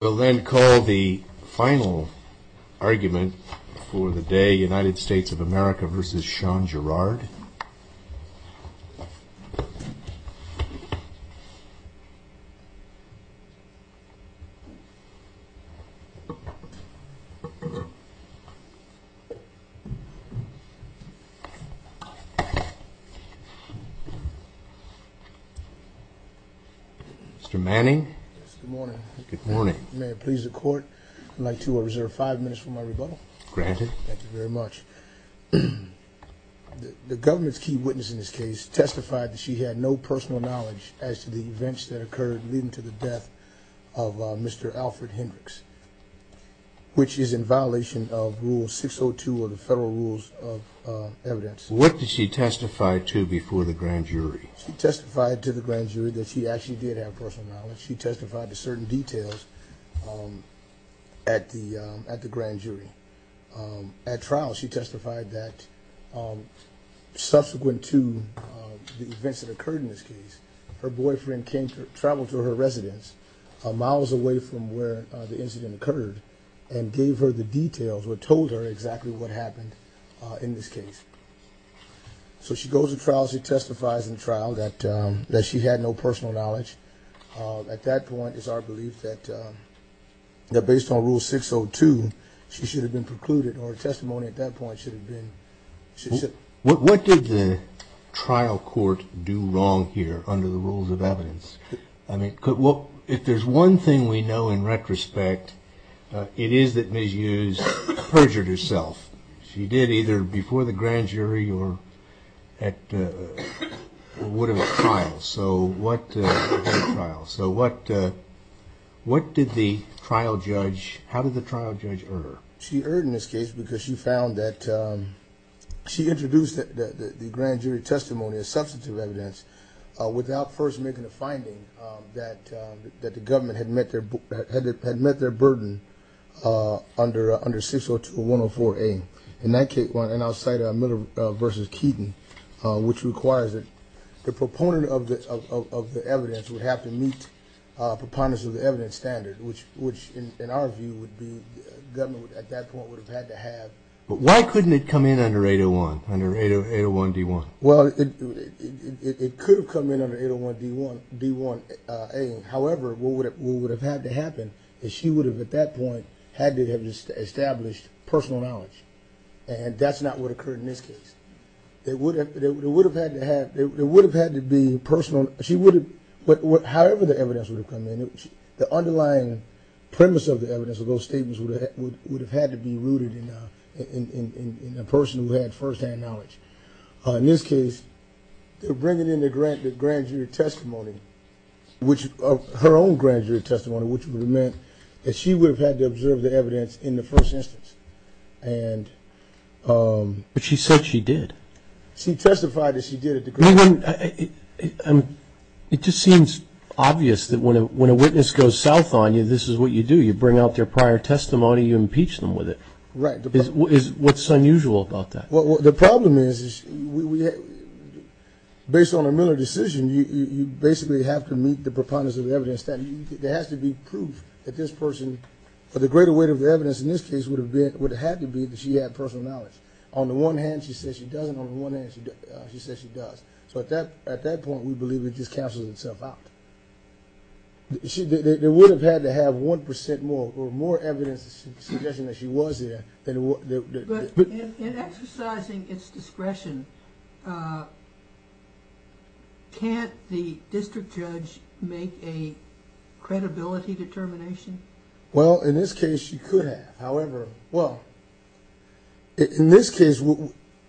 We'll then call the final argument for the day, United States of America v. Sean Gerard. Mr. Manning, may I please the court? I'd like to reserve five minutes for my rebuttal. Thank you very much. The government's key witness in this case testified that she had no personal knowledge as to the events that occurred leading to the death of Mr. Alfred Hendricks, which is in violation of Rule 602 of the Federal Rules of Evidence. What did she testify to before the grand jury? She testified to the grand jury that she actually did have personal knowledge. She testified to certain details at the grand jury. At trial, she testified that subsequent to the events that occurred in this case, her boyfriend came to travel to her residence miles away from where the incident occurred and gave her the details or told her exactly what happened in this case. So she goes to trial, she testifies in trial that she had no personal knowledge. At that point, it's our belief that based on Rule 602, she should have been precluded or her testimony at that point should have been... ...at the grand jury or would have been at trial. So what did the trial judge, how did the trial judge err? She erred in this case because she found that she introduced the grand jury testimony as substantive evidence without first making a finding that the government had met their burden under 602-104-A. In that case, and I'll cite Miller v. Keaton, which requires that the proponent of the evidence would have to meet proponents of the evidence standard, which in our view would be government at that point would have had to have... But why couldn't it come in under 801, under 801-D1? Well, it could have come in under 801-D1-A. However, what would have had to happen is she would have at that point had to have established personal knowledge. And that's not what occurred in this case. It would have had to be personal. However the evidence would have come in, the underlying premise of the evidence of those statements would have had to be rooted in a person who had firsthand knowledge. In this case, bringing in the grand jury testimony, her own grand jury testimony, which would have meant that she would have had to observe the evidence in the first instance. But she said she did. She testified that she did at the grand jury. It just seems obvious that when a witness goes south on you, this is what you do. You bring out their prior testimony, you impeach them with it. Right. What's unusual about that? Well, the problem is, based on a Miller decision, you basically have to meet the preponderance of the evidence. There has to be proof that this person, or the greater weight of the evidence in this case would have had to be that she had personal knowledge. On the one hand, she says she doesn't. On the one hand, she says she does. So at that point, we believe it just cancels itself out. They would have had to have 1% more, or more evidence suggesting that she was there. But in exercising its discretion, can't the district judge make a credibility determination? Well, in this case, she could have. However, well, in this case,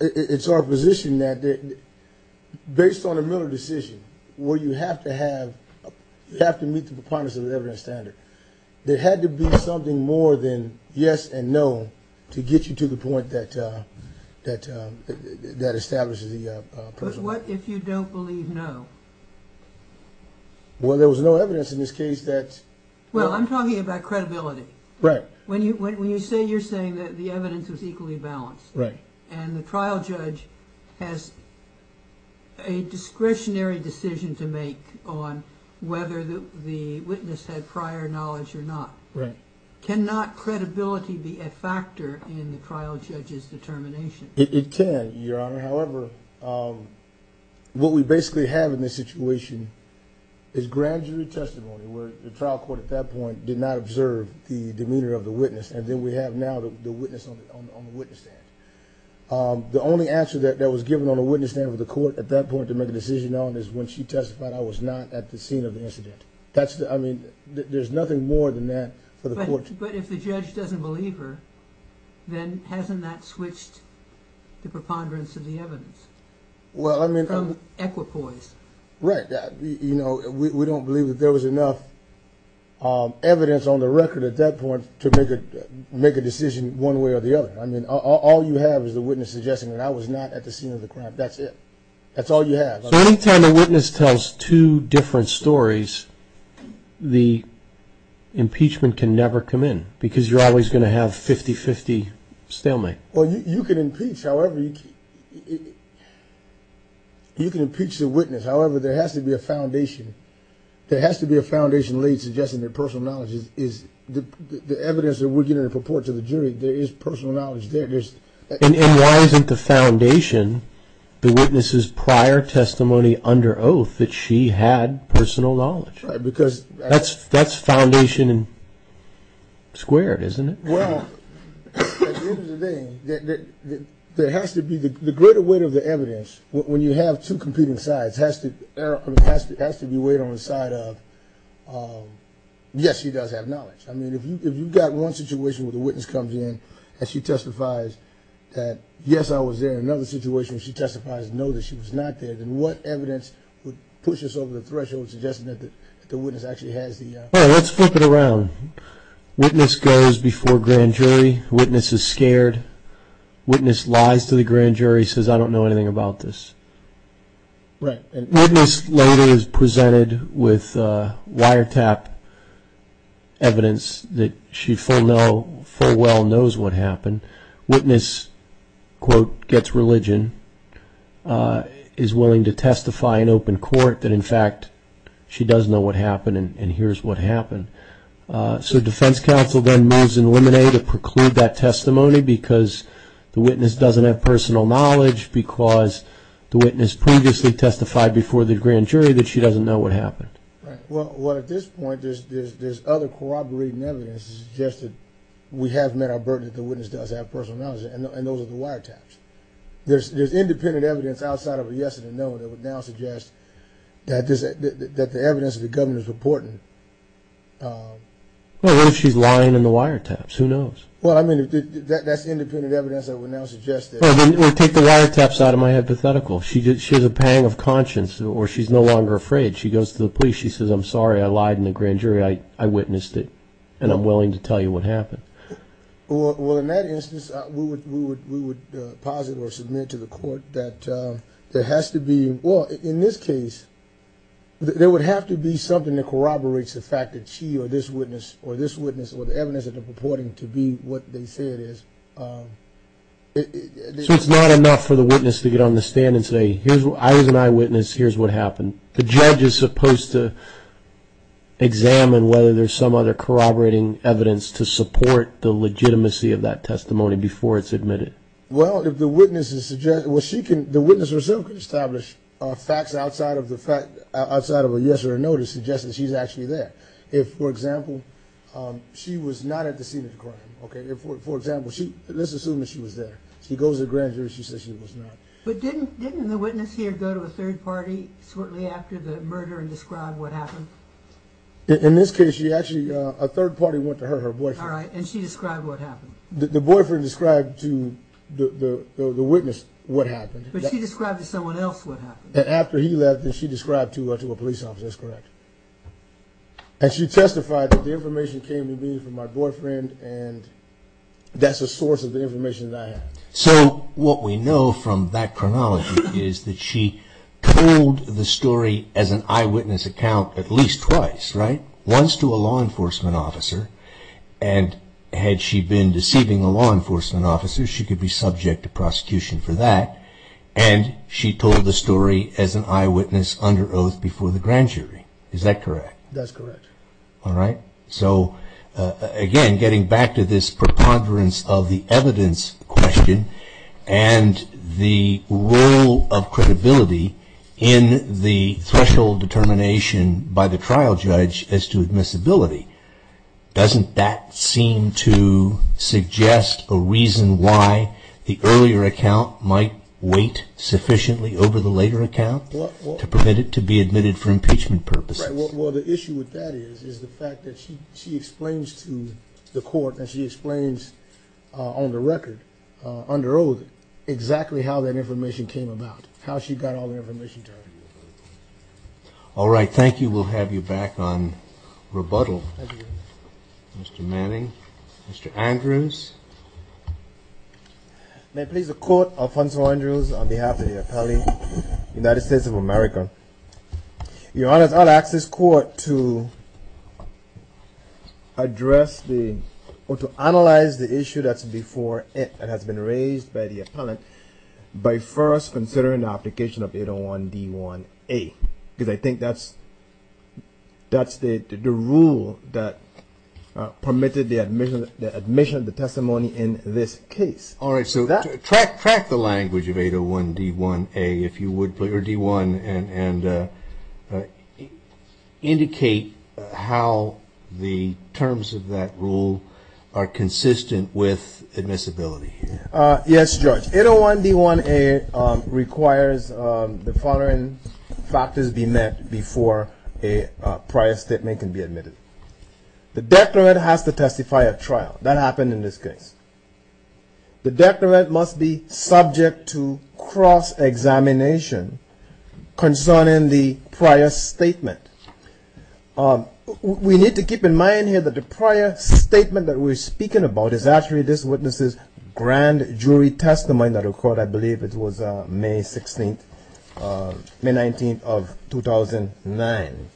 it's our position that based on a Miller decision, where you have to meet the preponderance of the evidence standard, there had to be something more than yes and no to get you to the point that establishes the person. But what if you don't believe no? Well, there was no evidence in this case that... Well, I'm talking about credibility. Right. When you say you're saying that the evidence was equally balanced, and the trial judge has a discretionary decision to make on whether the witness had prior knowledge or not. Right. Can not credibility be a factor in the trial judge's determination? It can, Your Honor. However, what we basically have in this situation is grand jury testimony, where the trial court at that point did not observe the demeanor of the witness. And then we have now the witness on the witness stand. The only answer that was given on the witness stand for the court at that point to make a decision on is when she testified I was not at the scene of the incident. I mean, there's nothing more than that for the court to... But if the judge doesn't believe her, then hasn't that switched the preponderance of the evidence? Well, I mean... From equipoise. Right. You know, we don't believe that there was enough evidence on the record at that point to make a decision one way or the other. I mean, all you have is the witness suggesting that I was not at the scene of the crime. That's it. That's all you have. So any time a witness tells two different stories, the impeachment can never come in, because you're always going to have 50-50 stalemate. Well, you can impeach. However, you can impeach the witness. However, there has to be a foundation. There has to be a foundation laid suggesting that personal knowledge is... The evidence that we're getting in purport to the jury, there is personal knowledge there. And why isn't the foundation the witness's prior testimony under oath that she had personal knowledge? Right, because... That's foundation squared, isn't it? Well, at the end of the day, there has to be the greater weight of the evidence, when you have two competing sides, has to be weighed on the side of, yes, she does have knowledge. I mean, if you've got one situation where the witness comes in and she testifies that, yes, I was there, and another situation where she testifies, no, that she was not there, then what evidence would push us over the threshold suggesting that the witness actually has the... Well, let's flip it around. Witness goes before grand jury. Witness is scared. Witness lies to the grand jury, says, I don't know anything about this. Right. Witness later is presented with wiretap evidence that she full well knows what happened. Witness, quote, gets religion, is willing to testify in open court that, in fact, she does know what happened and hears what happened. So defense counsel then moves in limine to preclude that testimony because the witness doesn't have personal knowledge, because the witness previously testified before the grand jury that she doesn't know what happened. Right. Well, at this point, there's other corroborating evidence that suggests that we have met our burden, that the witness does have personal knowledge, and those are the wiretaps. There's independent evidence outside of a yes and a no that would now suggest that the evidence the governor's reporting... Well, what if she's lying in the wiretaps? Who knows? Well, I mean, that's independent evidence that would now suggest that... Well, then take the wiretaps out of my hypothetical. She has a pang of conscience, or she's no longer afraid. She goes to the police. She says, I'm sorry I lied in the grand jury. I witnessed it, and I'm willing to tell you what happened. Well, in that instance, we would posit or submit to the court that there has to be... Well, in this case, there would have to be something that corroborates the fact that she or this witness or this witness or the evidence that they're reporting to be what they say it is. So it's not enough for the witness to get on the stand and say, here's what I witnessed. Here's what happened. The judge is supposed to examine whether there's some other corroborating evidence to support the legitimacy of that testimony before it's admitted. Well, if the witness is suggesting... Well, the witness herself could establish facts outside of a yes or a no to suggest that she's actually there. If, for example, she was not at the scene of the crime, okay? For example, let's assume that she was there. She goes to the grand jury. She says she was not. But didn't the witness here go to a third party shortly after the murder and describe what happened? In this case, she actually... A third party went to her, her boyfriend. All right, and she described what happened. The boyfriend described to the witness what happened. But she described to someone else what happened. And after he left, she described to a police officer. That's correct. And she testified that the information came to me from my boyfriend, and that's a source of the information that I have. So what we know from that chronology is that she told the story as an eyewitness account at least twice, right? Once to a law enforcement officer, and had she been deceiving a law enforcement officer, she could be subject to prosecution for that. And she told the story as an eyewitness under oath before the grand jury. Is that correct? That's correct. All right. So, again, getting back to this preponderance of the evidence question and the role of credibility in the threshold determination by the trial judge as to admissibility, doesn't that seem to suggest a reason why the earlier account might wait sufficiently over the later account to be admitted for impeachment purposes? Well, the issue with that is the fact that she explains to the court, and she explains on the record, under oath, exactly how that information came about, how she got all the information to her. All right, thank you. We'll have you back on rebuttal. Mr. Manning, Mr. Andrews. May it please the Court, Alfonso Andrews, on behalf of the appellee, United States of America. Your Honor, I'll ask this Court to address the or to analyze the issue that's before it and has been raised by the appellant by first considering the application of 801 D1A, because I think that's the rule that permitted the admission of the testimony in this case. All right, so track the language of 801 D1A if you would, or D1, and indicate how the terms of that rule are consistent with admissibility. Yes, Judge. 801 D1A requires the following factors be met before a prior statement can be admitted. The declarant has to testify at trial. That happened in this case. The declarant must be subject to cross-examination concerning the prior statement. We need to keep in mind here that the prior statement that we're speaking about is actually this witness's grand jury testimony that occurred, I believe it was May 16th, May 19th of 2009.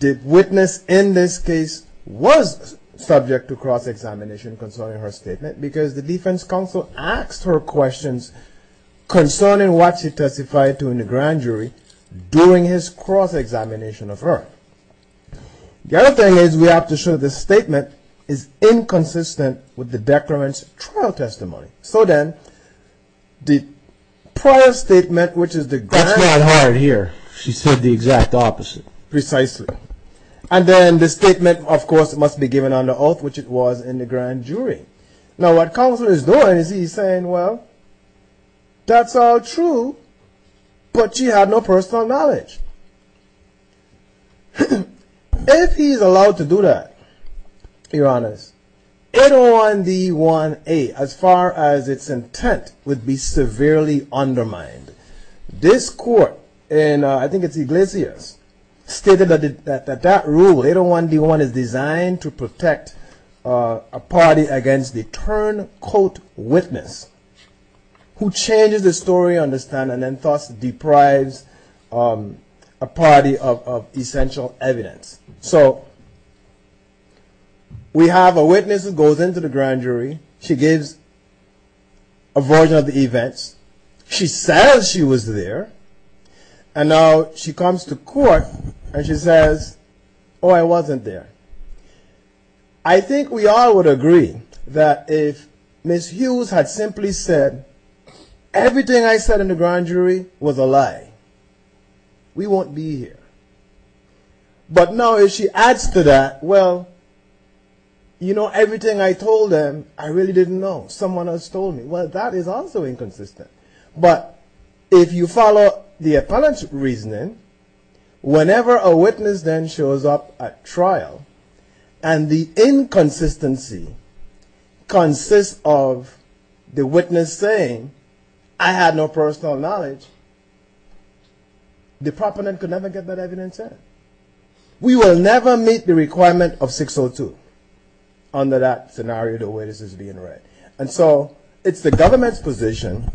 The witness in this case was subject to cross-examination concerning her statement because the defense counsel asked her questions concerning what she testified to in the grand jury during his cross-examination of her. The other thing is we have to show the statement is inconsistent with the declarant's trial testimony. So then, the prior statement, which is the grand jury. That's mad hard here. She said the exact opposite. Precisely. And then the statement, of course, must be given under oath, which it was in the grand jury. Now what counsel is doing is he's saying, well, that's all true, but she had no personal knowledge. If he's allowed to do that, your honors, 801D1A, as far as its intent, would be severely undermined. This court in, I think it's Iglesias, stated that that rule, 801D1, is designed to protect a party against the turncoat witness who changes the story on the stand and thus deprives a party of essential evidence. So we have a witness who goes into the grand jury. She gives a version of the events. She says she was there. And now she comes to court and she says, oh, I wasn't there. I think we all would agree that if Ms. Hughes had simply said, everything I said in the grand jury was a lie, we won't be here. But now if she adds to that, well, you know, everything I told them, I really didn't know. Someone else told me. Well, that is also inconsistent. But if you follow the appellant's reasoning, whenever a witness then shows up at trial and the inconsistency consists of the witness saying, I had no personal knowledge, the proponent could never get that evidence out. We will never meet the requirement of 602 under that scenario, the way this is being read. And so it's the government's position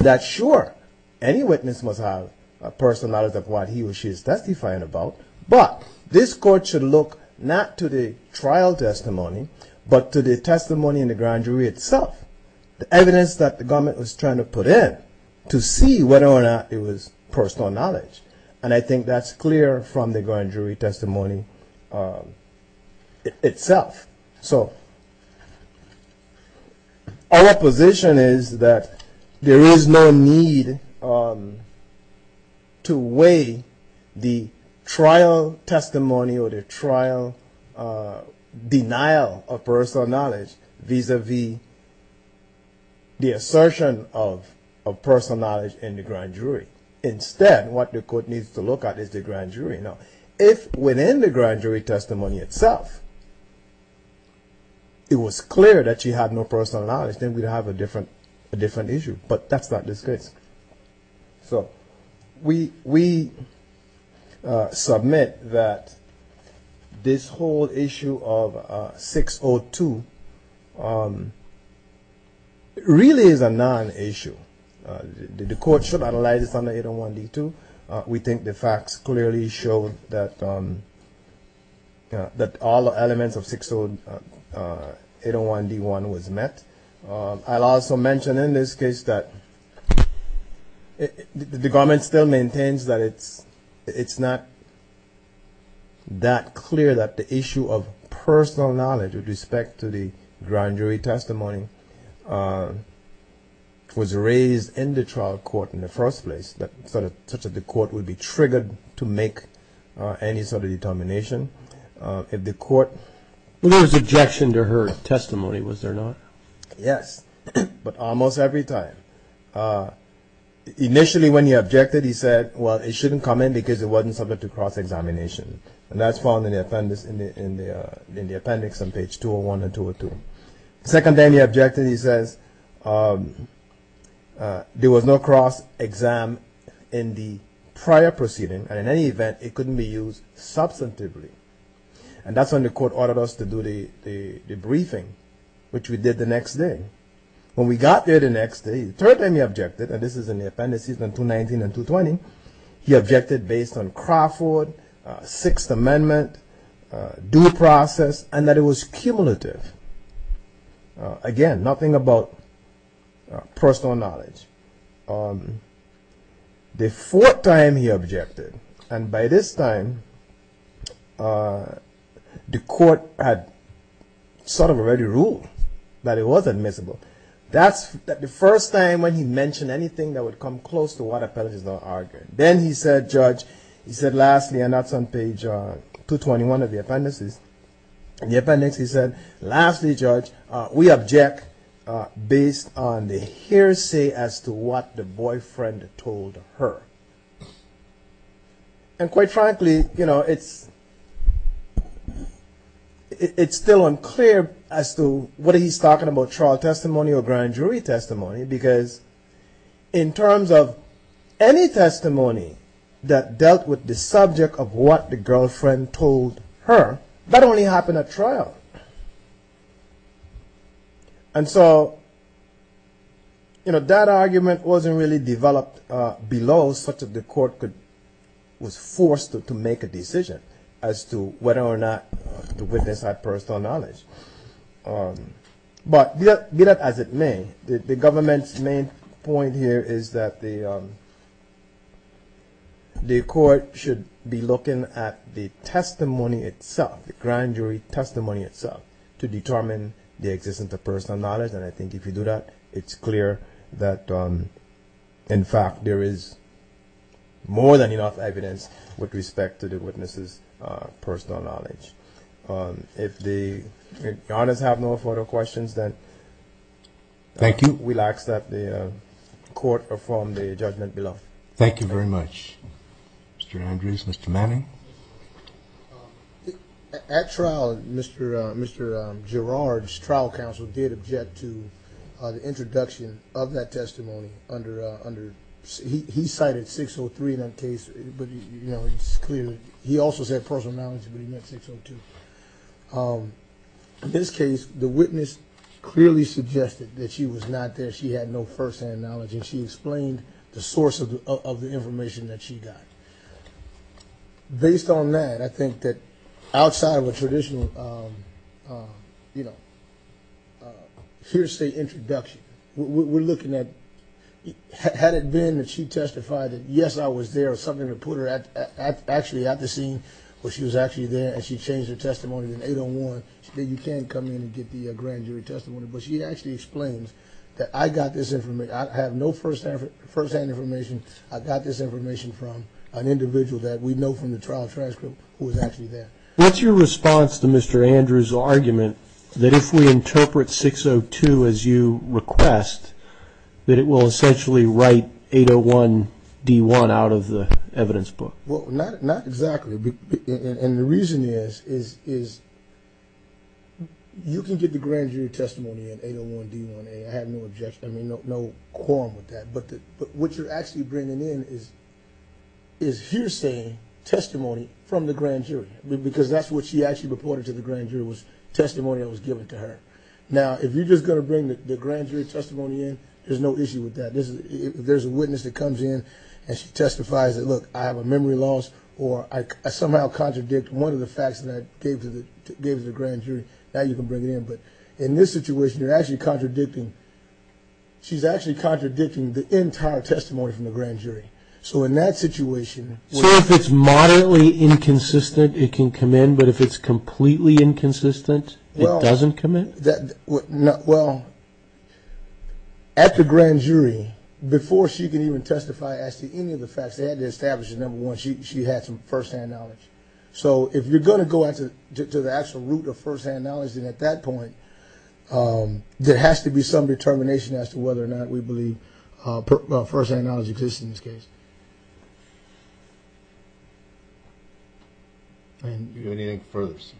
that, sure, any witness must have a personal knowledge of what he or she is testifying about. But this court should look not to the trial testimony, but to the testimony in the grand jury itself, the evidence that the government was trying to put in to see whether or not it was personal knowledge. And I think that's clear from the grand jury testimony itself. So our position is that there is no need to weigh the trial testimony or the trial denial of personal knowledge vis-a-vis the assertion of personal knowledge in the grand jury. Instead, what the court needs to look at is the grand jury. Now, if within the grand jury testimony itself it was clear that she had no personal knowledge, then we'd have a different issue. But that's not the case. So we submit that this whole issue of 602 really is a non-issue. The court should analyze this under 801D2. We think the facts clearly show that all the elements of 60801D1 was met. I'll also mention in this case that the government still maintains that it's not that clear that the issue of personal knowledge with respect to the grand jury testimony was raised in the trial court in the first place, such that the court would be triggered to make any sort of determination. There was objection to her testimony, was there not? Yes, but almost every time. Initially, when he objected, he said, well, it shouldn't come in because it wasn't subject to cross-examination. And that's found in the appendix on page 201 and 202. The second time he objected, he says, there was no cross-exam in the prior proceeding. And in any event, it couldn't be used substantively. And that's when the court ordered us to do the briefing, which we did the next day. When we got there the next day, the third time he objected, and this is in the appendices on 219 and 220, he objected based on Crawford, Sixth Amendment, due process, and that it was cumulative. Again, nothing about personal knowledge. The fourth time he objected, and by this time, the court had sort of already ruled that it was admissible. That's the first time when he mentioned anything that would come close to what appendices are arguing. Then he said, Judge, he said, lastly, and that's on page 221 of the appendices, in the appendix he said, lastly, Judge, we object based on the hearsay as to what the boyfriend told her. And quite frankly, you know, it's still unclear as to what he's talking about trial testimony, or grand jury testimony, because in terms of any testimony that dealt with the subject of what the girlfriend told her, that only happened at trial. And so, you know, that argument wasn't really developed below such that the court could, was forced to make a decision as to whether or not to witness that personal knowledge. But be that as it may, the government's main point here is that the court should be looking at the testimony itself, the grand jury testimony itself, to determine the existence of personal knowledge. And I think if you do that, it's clear that, in fact, there is more than enough evidence with respect to the witness's personal knowledge. If the audience have no further questions, then we'll ask that the court perform the judgment below. Thank you very much. Mr. Andrews, Mr. Manning? At trial, Mr. Gerard's trial counsel did object to the introduction of that testimony under, he cited 603 in that case, but, you know, it's clear, he also said personal knowledge, but he meant 602. In this case, the witness clearly suggested that she was not there, she had no firsthand knowledge, and she explained the source of the information that she got. Based on that, I think that outside of a traditional, you know, here's the introduction, we're looking at, had it been that she testified that, yes, I was there, something to put her at, actually at the scene where she was actually there, and she changed her testimony to 801, you can come in and get the grand jury testimony, but she actually explains that I got this information, I have no firsthand information, I got this information from an individual that we know from the trial transcript who was actually there. What's your response to Mr. Andrews' argument that if we interpret 602 as you request, that it will essentially write 801D1 out of the evidence book? Well, not exactly, and the reason is you can get the grand jury testimony in 801D1A, I have no objection, I mean, no quorum with that, but what you're actually bringing in is hearsay testimony from the grand jury, because that's what she actually reported to the grand jury was testimony that was given to her. Now, if you're just going to bring the grand jury testimony in, there's no issue with that. If there's a witness that comes in and she testifies that, look, I have a memory loss, or I somehow contradict one of the facts that I gave to the grand jury, now you can bring it in. But in this situation, you're actually contradicting, she's actually contradicting the entire testimony from the grand jury. So in that situation... She can come in, but if it's completely inconsistent, it doesn't come in? Well, at the grand jury, before she could even testify as to any of the facts, they had to establish that, number one, she had some first-hand knowledge. So if you're going to go to the actual root of first-hand knowledge, then at that point, there has to be some determination as to whether or not we believe first-hand knowledge exists in this case. No judgment.